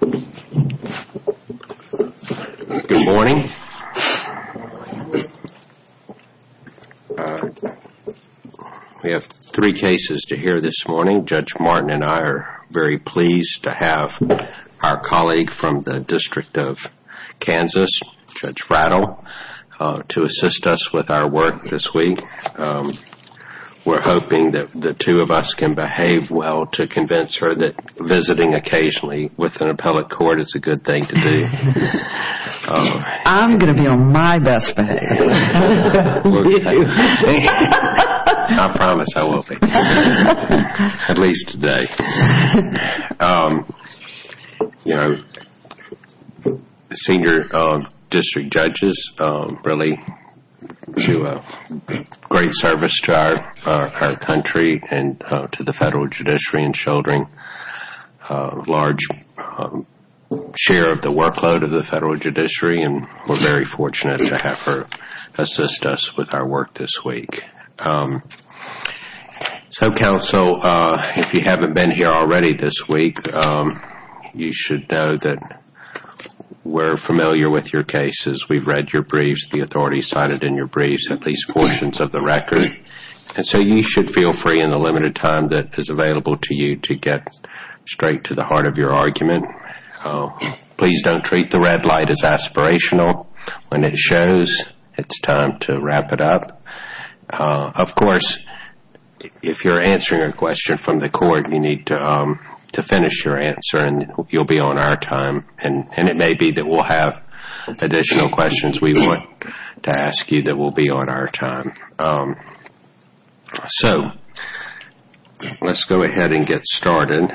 Good morning, we have three cases to hear this morning. Judge Martin and I are very pleased to have our colleague from the district of Kansas, Judge Frattle, to assist us with our work this week. We're hoping that the two of us can behave well to convince her that visiting occasionally with an appellate court is a good thing to do. I'm going to be on my best behavior. I promise I will be, at least today. Senior district judges really do a great service to our country and to the federal judiciary and shouldering a large share of the workload of the federal judiciary, and we're very fortunate to have her assist us with our work this week. So counsel, if you haven't been here already this week, you should know that we're familiar with your cases. We've read your briefs, the authorities cited in your briefs, at least portions of the record, and so you should feel free in the limited time that is available to you to get straight to the heart of your argument. Please don't treat the red light as aspirational. When it shows, it's time to wrap it up. Of course, if you're answering a question from the court, you need to finish your answer and you'll be on our time, and it may be that we'll have additional questions we want to answer. So let's go ahead and get started.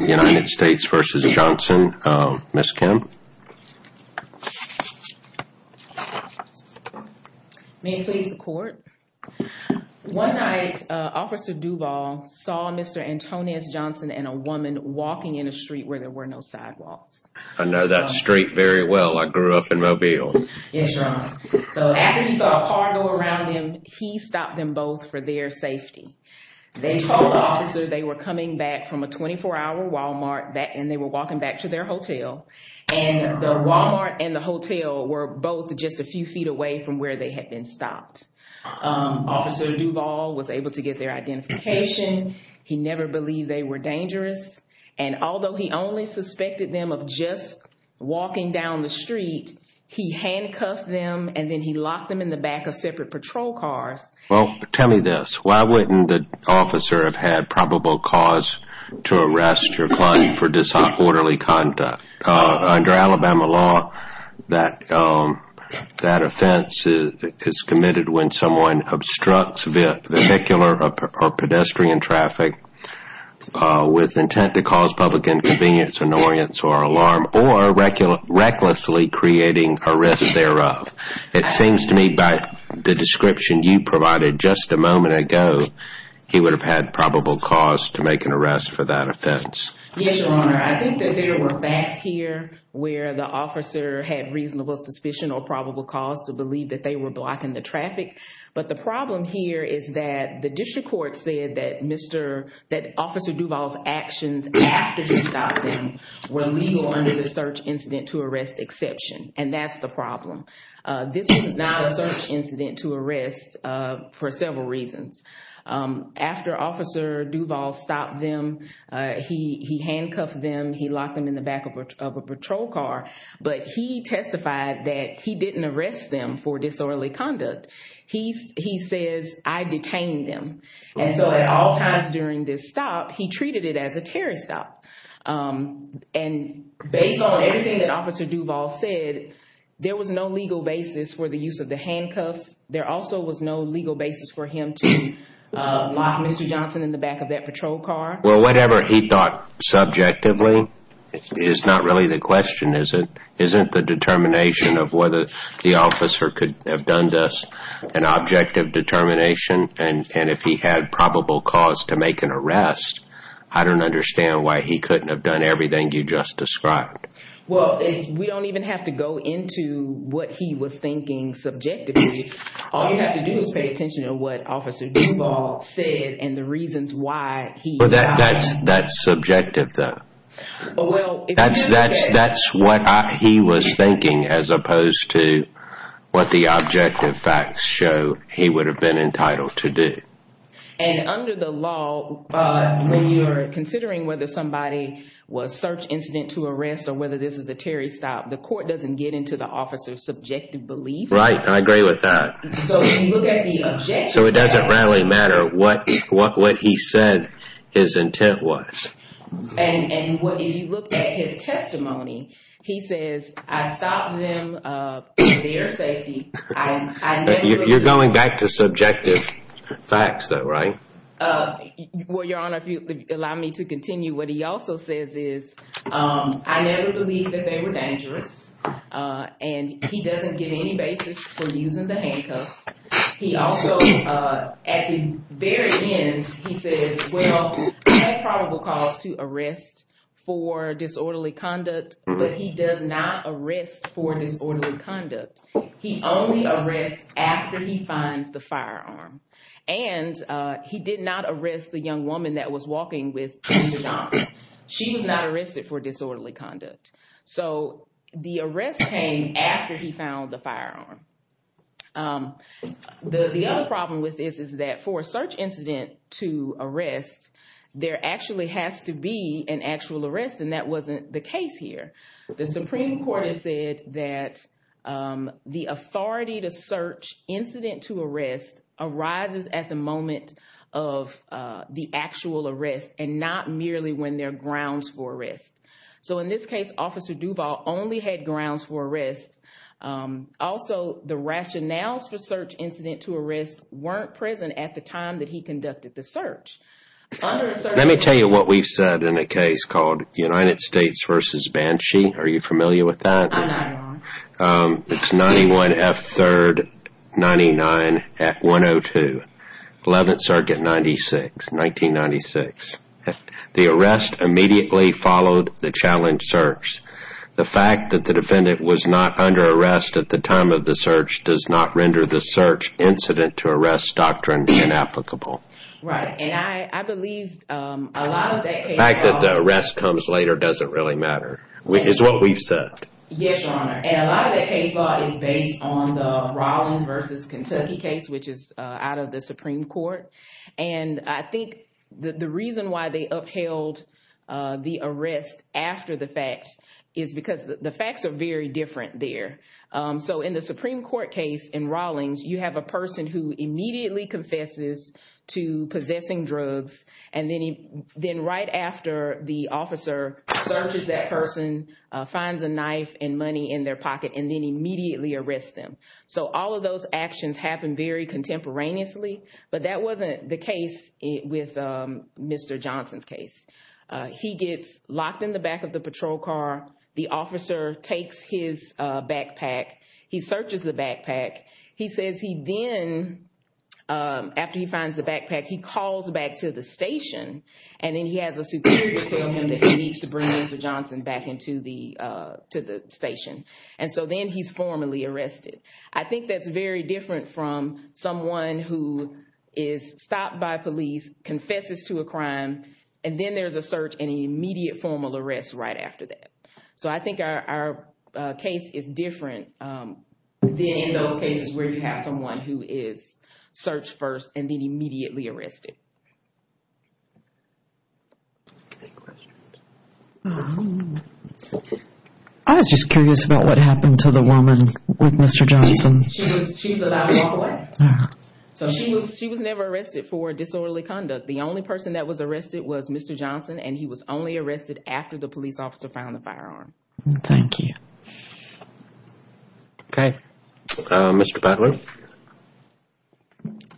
United States v. Johnson. Ms. Kim. May it please the court. One night, Officer Duvall saw Mr. Antonias Johnson and a woman walking in a street where there were no sidewalks. I know that street very well. I grew up in Mobile. Yes, Your Honor. So after he saw a car go around them, he stopped them both for their safety. They told the officer they were coming back from a 24-hour Walmart and they were walking back to their hotel, and the Walmart and the hotel were both just a few feet away from where they had been stopped. Officer Duvall was able to get their identification. He never believed they were dangerous, and although he only suspected them of just walking down the street, he handcuffed them and then he locked them in the back of separate patrol cars. Well, tell me this. Why wouldn't the officer have had probable cause to arrest your client for disorderly conduct? Under Alabama law, that offense is committed when someone obstructs vehicular or pedestrian traffic with intent to cause public inconvenience, annoyance, or alarm, or recklessly creating a risk thereof. It seems to me by the description you provided just a moment ago, he would have had probable cause to make an arrest for that offense. Yes, Your Honor. I think that there were facts here where the officer had reasonable suspicion or probable cause to believe that they were blocking the traffic, but the problem here is that the officer, that Officer Duvall's actions after he stopped them were legal under the search incident to arrest exception, and that's the problem. This is not a search incident to arrest for several reasons. After Officer Duvall stopped them, he handcuffed them, he locked them in the back of a patrol car, but he testified that he didn't arrest them for disorderly conduct. He says, I detained them, and so at all times during this stop, he treated it as a terrorist stop, and based on everything that Officer Duvall said, there was no legal basis for the use of the handcuffs. There also was no legal basis for him to lock Mr. Johnson in the back of that patrol car. Well, whatever he thought subjectively is not really the question, is it? The determination of whether the officer could have done this, an objective determination, and if he had probable cause to make an arrest, I don't understand why he couldn't have done everything you just described. Well, we don't even have to go into what he was thinking subjectively. All you have to do is pay attention to what Officer Duvall said and the reasons why he stopped. That's subjective, though. That's what he was thinking, as opposed to what the objective facts show he would have been entitled to do. And under the law, when you're considering whether somebody was search incident to arrest or whether this is a terrorist stop, the court doesn't get into the officer's subjective beliefs. Right, I agree with that. So, if you look at the objective facts- So, it doesn't really matter what he said his intent was. And if you look at his testimony, he says, I stopped them for their safety, I never- You're going back to subjective facts, though, right? Well, Your Honor, if you allow me to continue, what he also says is, I never believed that they were dangerous, and he doesn't give any basis for using the handcuffs. He also, at the very end, he says, well, I have probable cause to arrest for disorderly conduct, but he does not arrest for disorderly conduct. He only arrests after he finds the firearm. And he did not arrest the young woman that was walking with Officer Johnson. She was not arrested for disorderly conduct. So, the arrest came after he found the firearm. The other problem with this is that for a search incident to arrest, there actually has to be an actual arrest, and that wasn't the case here. The Supreme Court has said that the authority to search incident to arrest arises at the moment of the actual arrest and not merely when there are grounds for arrest. So, in this case, Officer Duvall only had grounds for arrest. Also, the rationales for search incident to arrest weren't present at the time that he conducted the search. Under a search- Let me tell you what we've said in a case called United States versus Banshee. Are you familiar with that? I'm not, Your Honor. It's 91 F. 3rd, 99 at 102, 11th Circuit, 96, 1996. The arrest immediately followed the challenge search. The fact that the defendant was not under arrest at the time of the search does not render the search incident to arrest doctrine inapplicable. Right. And I believe a lot of that case- The fact that the arrest comes later doesn't really matter, is what we've said. Yes, Your Honor. And a lot of that case law is based on the Rawlings versus Kentucky case, which is out of the Supreme Court. And I think the reason why they upheld the arrest after the fact is because the facts are very different there. So, in the Supreme Court case in Rawlings, you have a person who immediately confesses to possessing drugs, and then right after the officer searches that person, finds a knife and money in their pocket, and then immediately arrests them. So, all of those actions happen very contemporaneously, but that wasn't the case with Mr. Johnson's case. He gets locked in the back of the patrol car. The officer takes his backpack. He searches the backpack. He says he then, after he finds the backpack, he calls back to the station, and then he has a superior tell him that he needs to bring Mr. Johnson back into the station. And so, then he's formally arrested. I think that's very different from someone who is stopped by police, confesses to a crime, and then there's a search and an immediate formal arrest right after that. So, I think our case is different than in those cases where you have someone who is searched first and then immediately arrested. Any questions? I was just curious about what happened to the woman with Mr. Johnson. She was allowed to walk away. So, she was never arrested for disorderly conduct. The only person that was arrested was Mr. Johnson, and he was only arrested after the police officer found the firearm. Thank you. Okay. Mr. Butler.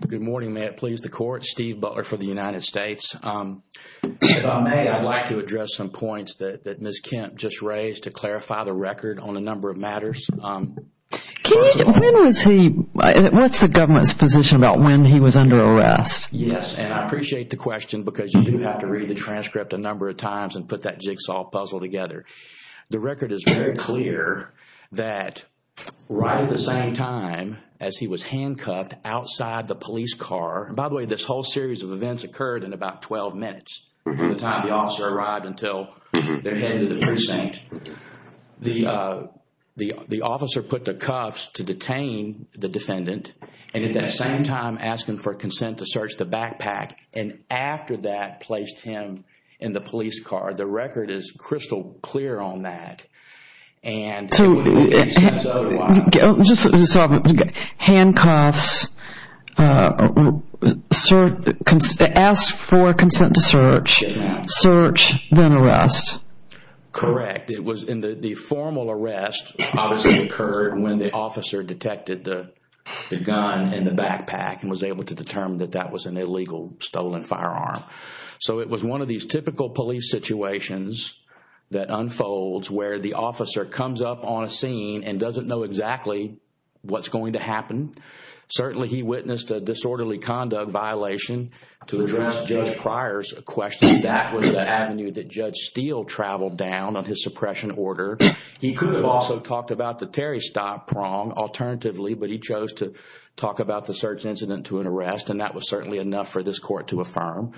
Good morning. May it please the court. Steve Butler for the United States. If I may, I'd like to address some points that Ms. Kemp just raised to clarify the record on a number of matters. When was he, what's the government's position about when he was under arrest? Yes, and I appreciate the question because you do have to read the transcript a number of times and put that jigsaw puzzle together. The record is very clear that right at the same time as he was handcuffed outside the for the time the officer arrived until they're headed to the precinct, the officer put the cuffs to detain the defendant, and at that same time asking for consent to search the backpack, and after that placed him in the police car. The record is crystal clear on that. So, handcuffs, ask for consent to search, search, then arrest. Correct. It was in the formal arrest obviously occurred when the officer detected the gun in the backpack and was able to determine that that was an illegal stolen firearm. So it was one of these typical police situations that unfolds where the officer comes up on a scene and doesn't know exactly what's going to happen. Certainly he witnessed a disorderly conduct violation to address Judge Pryor's question. That was the avenue that Judge Steele traveled down on his suppression order. He could have also talked about the Terry Stott prong alternatively, but he chose to talk about the search incident to an arrest, and that was certainly enough for this court to affirm.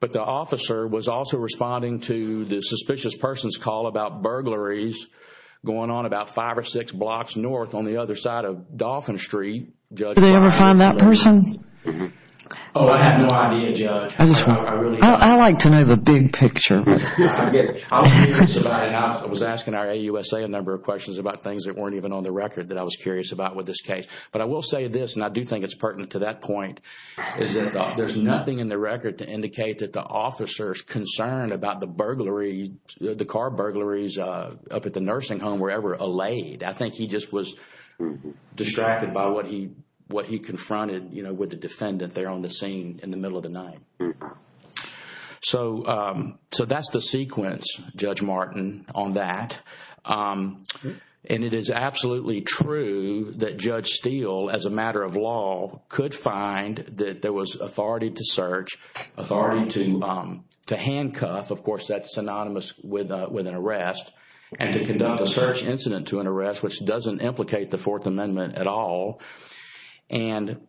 But the officer was also responding to the suspicious person's call about burglaries going on about five or six blocks north on the other side of Dolphin Street. Did they ever find that person? Oh, I have no idea, Judge. I like to know the big picture. I was asking our AUSA a number of questions about things that weren't even on the record that I was curious about with this case, but I will say this and I do think it's pertinent to that point, is that there's nothing in the record to indicate that the officer's concern about the burglary, the car burglaries up at the nursing home were ever allayed. I think he just was distracted by what he confronted, you know, with the defendant there on the scene in the middle of the night. So that's the sequence, Judge Martin, on that. And it is absolutely true that Judge Steele, as a matter of law, could find that there was authority to search, authority to handcuff, of course, that's synonymous with an arrest, and to conduct a search incident to an arrest, which doesn't implicate the Fourth Amendment at all. And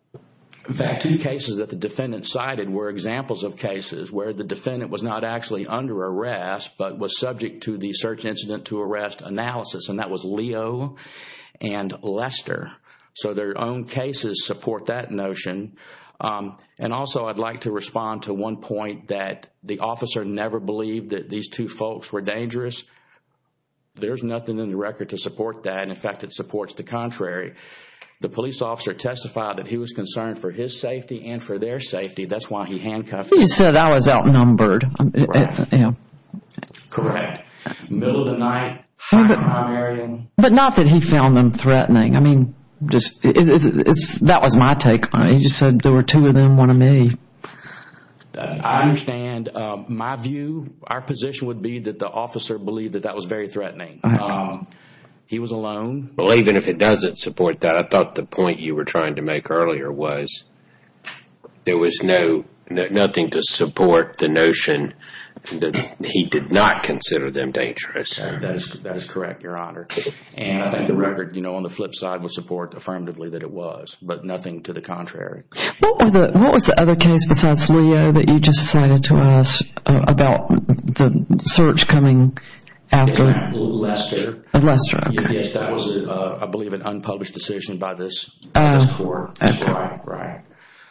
in fact, two cases that the defendant cited were examples of cases where the defendant was not actually under arrest, but was subject to the search incident to arrest analysis, and that was Leo and Lester. So their own cases support that notion. And also, I'd like to respond to one point that the officer never believed that these two folks were dangerous. There's nothing in the record to support that, and in fact, it supports the contrary. The police officer testified that he was concerned for his safety and for their safety, that's why he handcuffed them. He said I was outnumbered. Correct. Correct. In the middle of the night, firing on an area. But not that he found them threatening. That was my take on it. He just said there were two of them, one of me. I understand. My view, our position would be that the officer believed that that was very threatening. He was alone. Well, even if it doesn't support that, I thought the point you were trying to make earlier was there was nothing to support the notion that he did not consider them dangerous. That is correct, Your Honor. And I think the record, you know, on the flip side would support affirmatively that it was, but nothing to the contrary. What was the other case besides Leo that you just cited to us about the search coming after? Lester. Lester, okay. Yes, that was, I believe, an unpublished decision by this court. Okay. Right.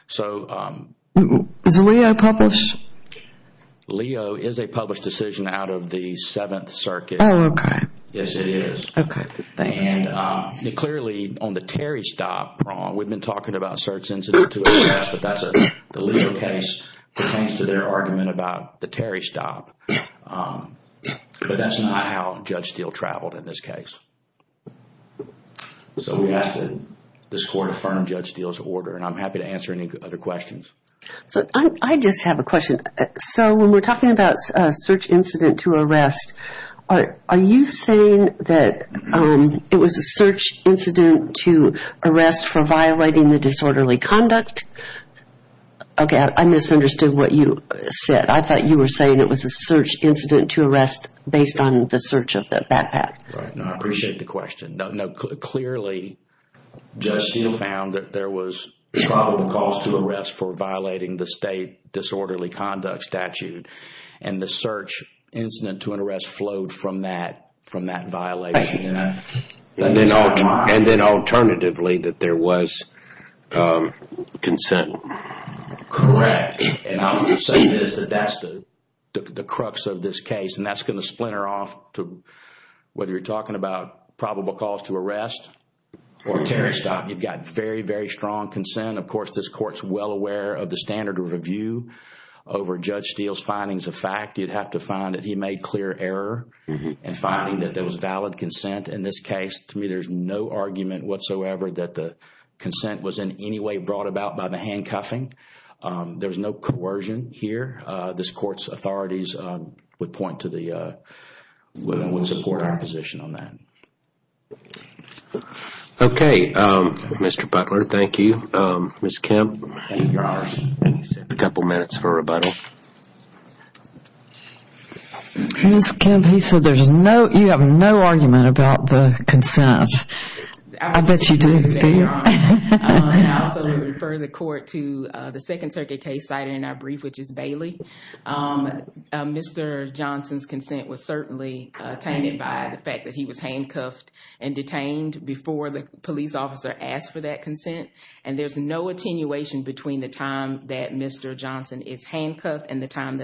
So... Is Leo published? Leo is a published decision out of the Seventh Circuit. Oh, okay. Yes, it is. Okay. Thanks. And clearly, on the Terry stop, we've been talking about search incidents, but that's a legal case. It pertains to their argument about the Terry stop. But that's not how Judge Steele traveled in this case. So we ask that this court affirm Judge Steele's order, and I'm happy to answer any other questions. I just have a question. So when we're talking about a search incident to arrest, are you saying that it was a search incident to arrest for violating the disorderly conduct? Okay, I misunderstood what you said. I thought you were saying it was a search incident to arrest based on the search of the backpack. Right. No, I appreciate the question. No, clearly, Judge Steele found that there was probable cause to arrest for violating the state disorderly conduct statute, and the search incident to an arrest flowed from that violation. And then alternatively, that there was consent. Correct. And I'm going to say this, that that's the crux of this case, and that's going to splinter off to whether you're talking about probable cause to arrest or a Terry stop. You've got very, very strong consent. Of course, this court's well aware of the standard of review over Judge Steele's findings of fact. You'd have to find that he made clear error in finding that there was valid consent in this case. To me, there's no argument whatsoever that the consent was in any way brought about by the handcuffing. There's no coercion here. This court's authorities would point to the, would support our position on that. Okay, Mr. Butler, thank you. Ms. Kemp, you have a couple minutes for rebuttal. Ms. Kemp, he said there's no, you have no argument about the consent. I bet you do. I also refer the court to the second circuit case cited in our brief, which is Bailey. Mr. Johnson's consent was certainly tainted by the fact that he was handcuffed and detained before the police officer asked for that consent. And there's no attenuation between the time that Mr. Johnson is handcuffed and the time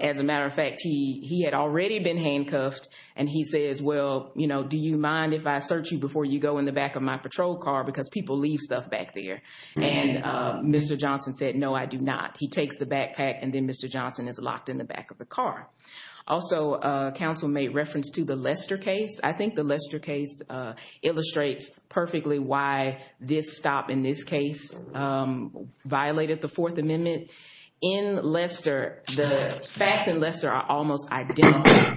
As a matter of fact, he had already been handcuffed and he says, well, you know, do you mind if I search you before you go in the back of my patrol car because people leave stuff back there. And Mr. Johnson said, no, I do not. He takes the backpack and then Mr. Johnson is locked in the back of the car. Also, counsel made reference to the Lester case. I think the Lester case illustrates perfectly why this stop in this case violated the Fourth Amendment. In Lester, the facts in Lester are almost identical.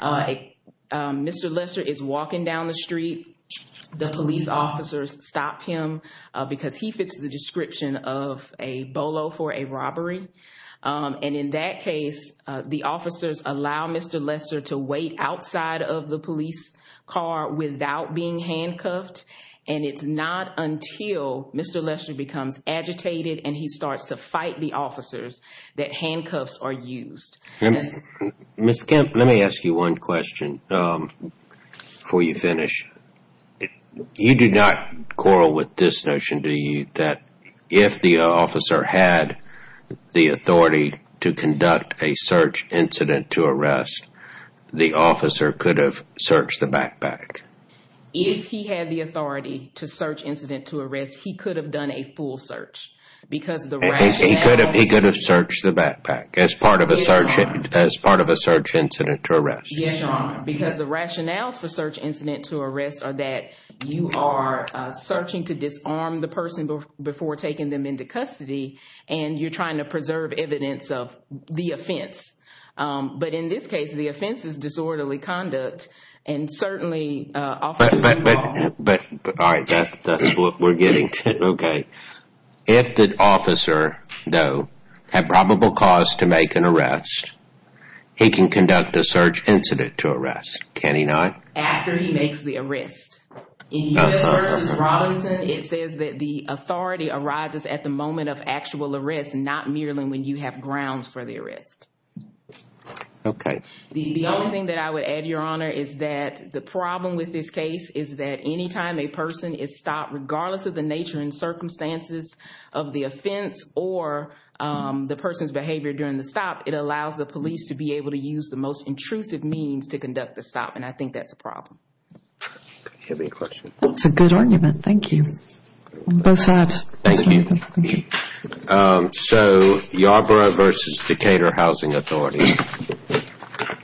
Mr. Lester is walking down the street. The police officers stop him because he fits the description of a bolo for a robbery. And in that case, the officers allow Mr. Lester to wait outside of the police car without being handcuffed. And it's not until Mr. Lester becomes agitated and he starts to fight the officers that handcuffs are used. Ms. Kemp, let me ask you one question before you finish. You do not quarrel with this notion, do you, that if the officer had the authority to conduct a search incident to arrest, the officer could have searched the backpack? If he had the authority to search incident to arrest, he could have done a full search because the rationale... He could have searched the backpack as part of a search incident to arrest. Yes, Your Honor. Because the rationales for search incident to arrest are that you are searching to disarm the person before taking them into custody and you're trying to preserve evidence of the offense. But in this case, the offense is disorderly conduct and certainly... But, all right, that's what we're getting to. Okay. If the officer, though, had probable cause to make an arrest, he can conduct a search incident to arrest, can he not? After he makes the arrest. In U.S. v. Robinson, it says that the authority arises at the moment of actual arrest, not primarily when you have grounds for the arrest. Okay. The only thing that I would add, Your Honor, is that the problem with this case is that anytime a person is stopped, regardless of the nature and circumstances of the offense or the person's behavior during the stop, it allows the police to be able to use the most intrusive means to conduct the stop, and I think that's a problem. Do you have any questions? That's a good argument. Thank you. Both sides. Thank you. So, Yarborough v. Decatur Housing Authority.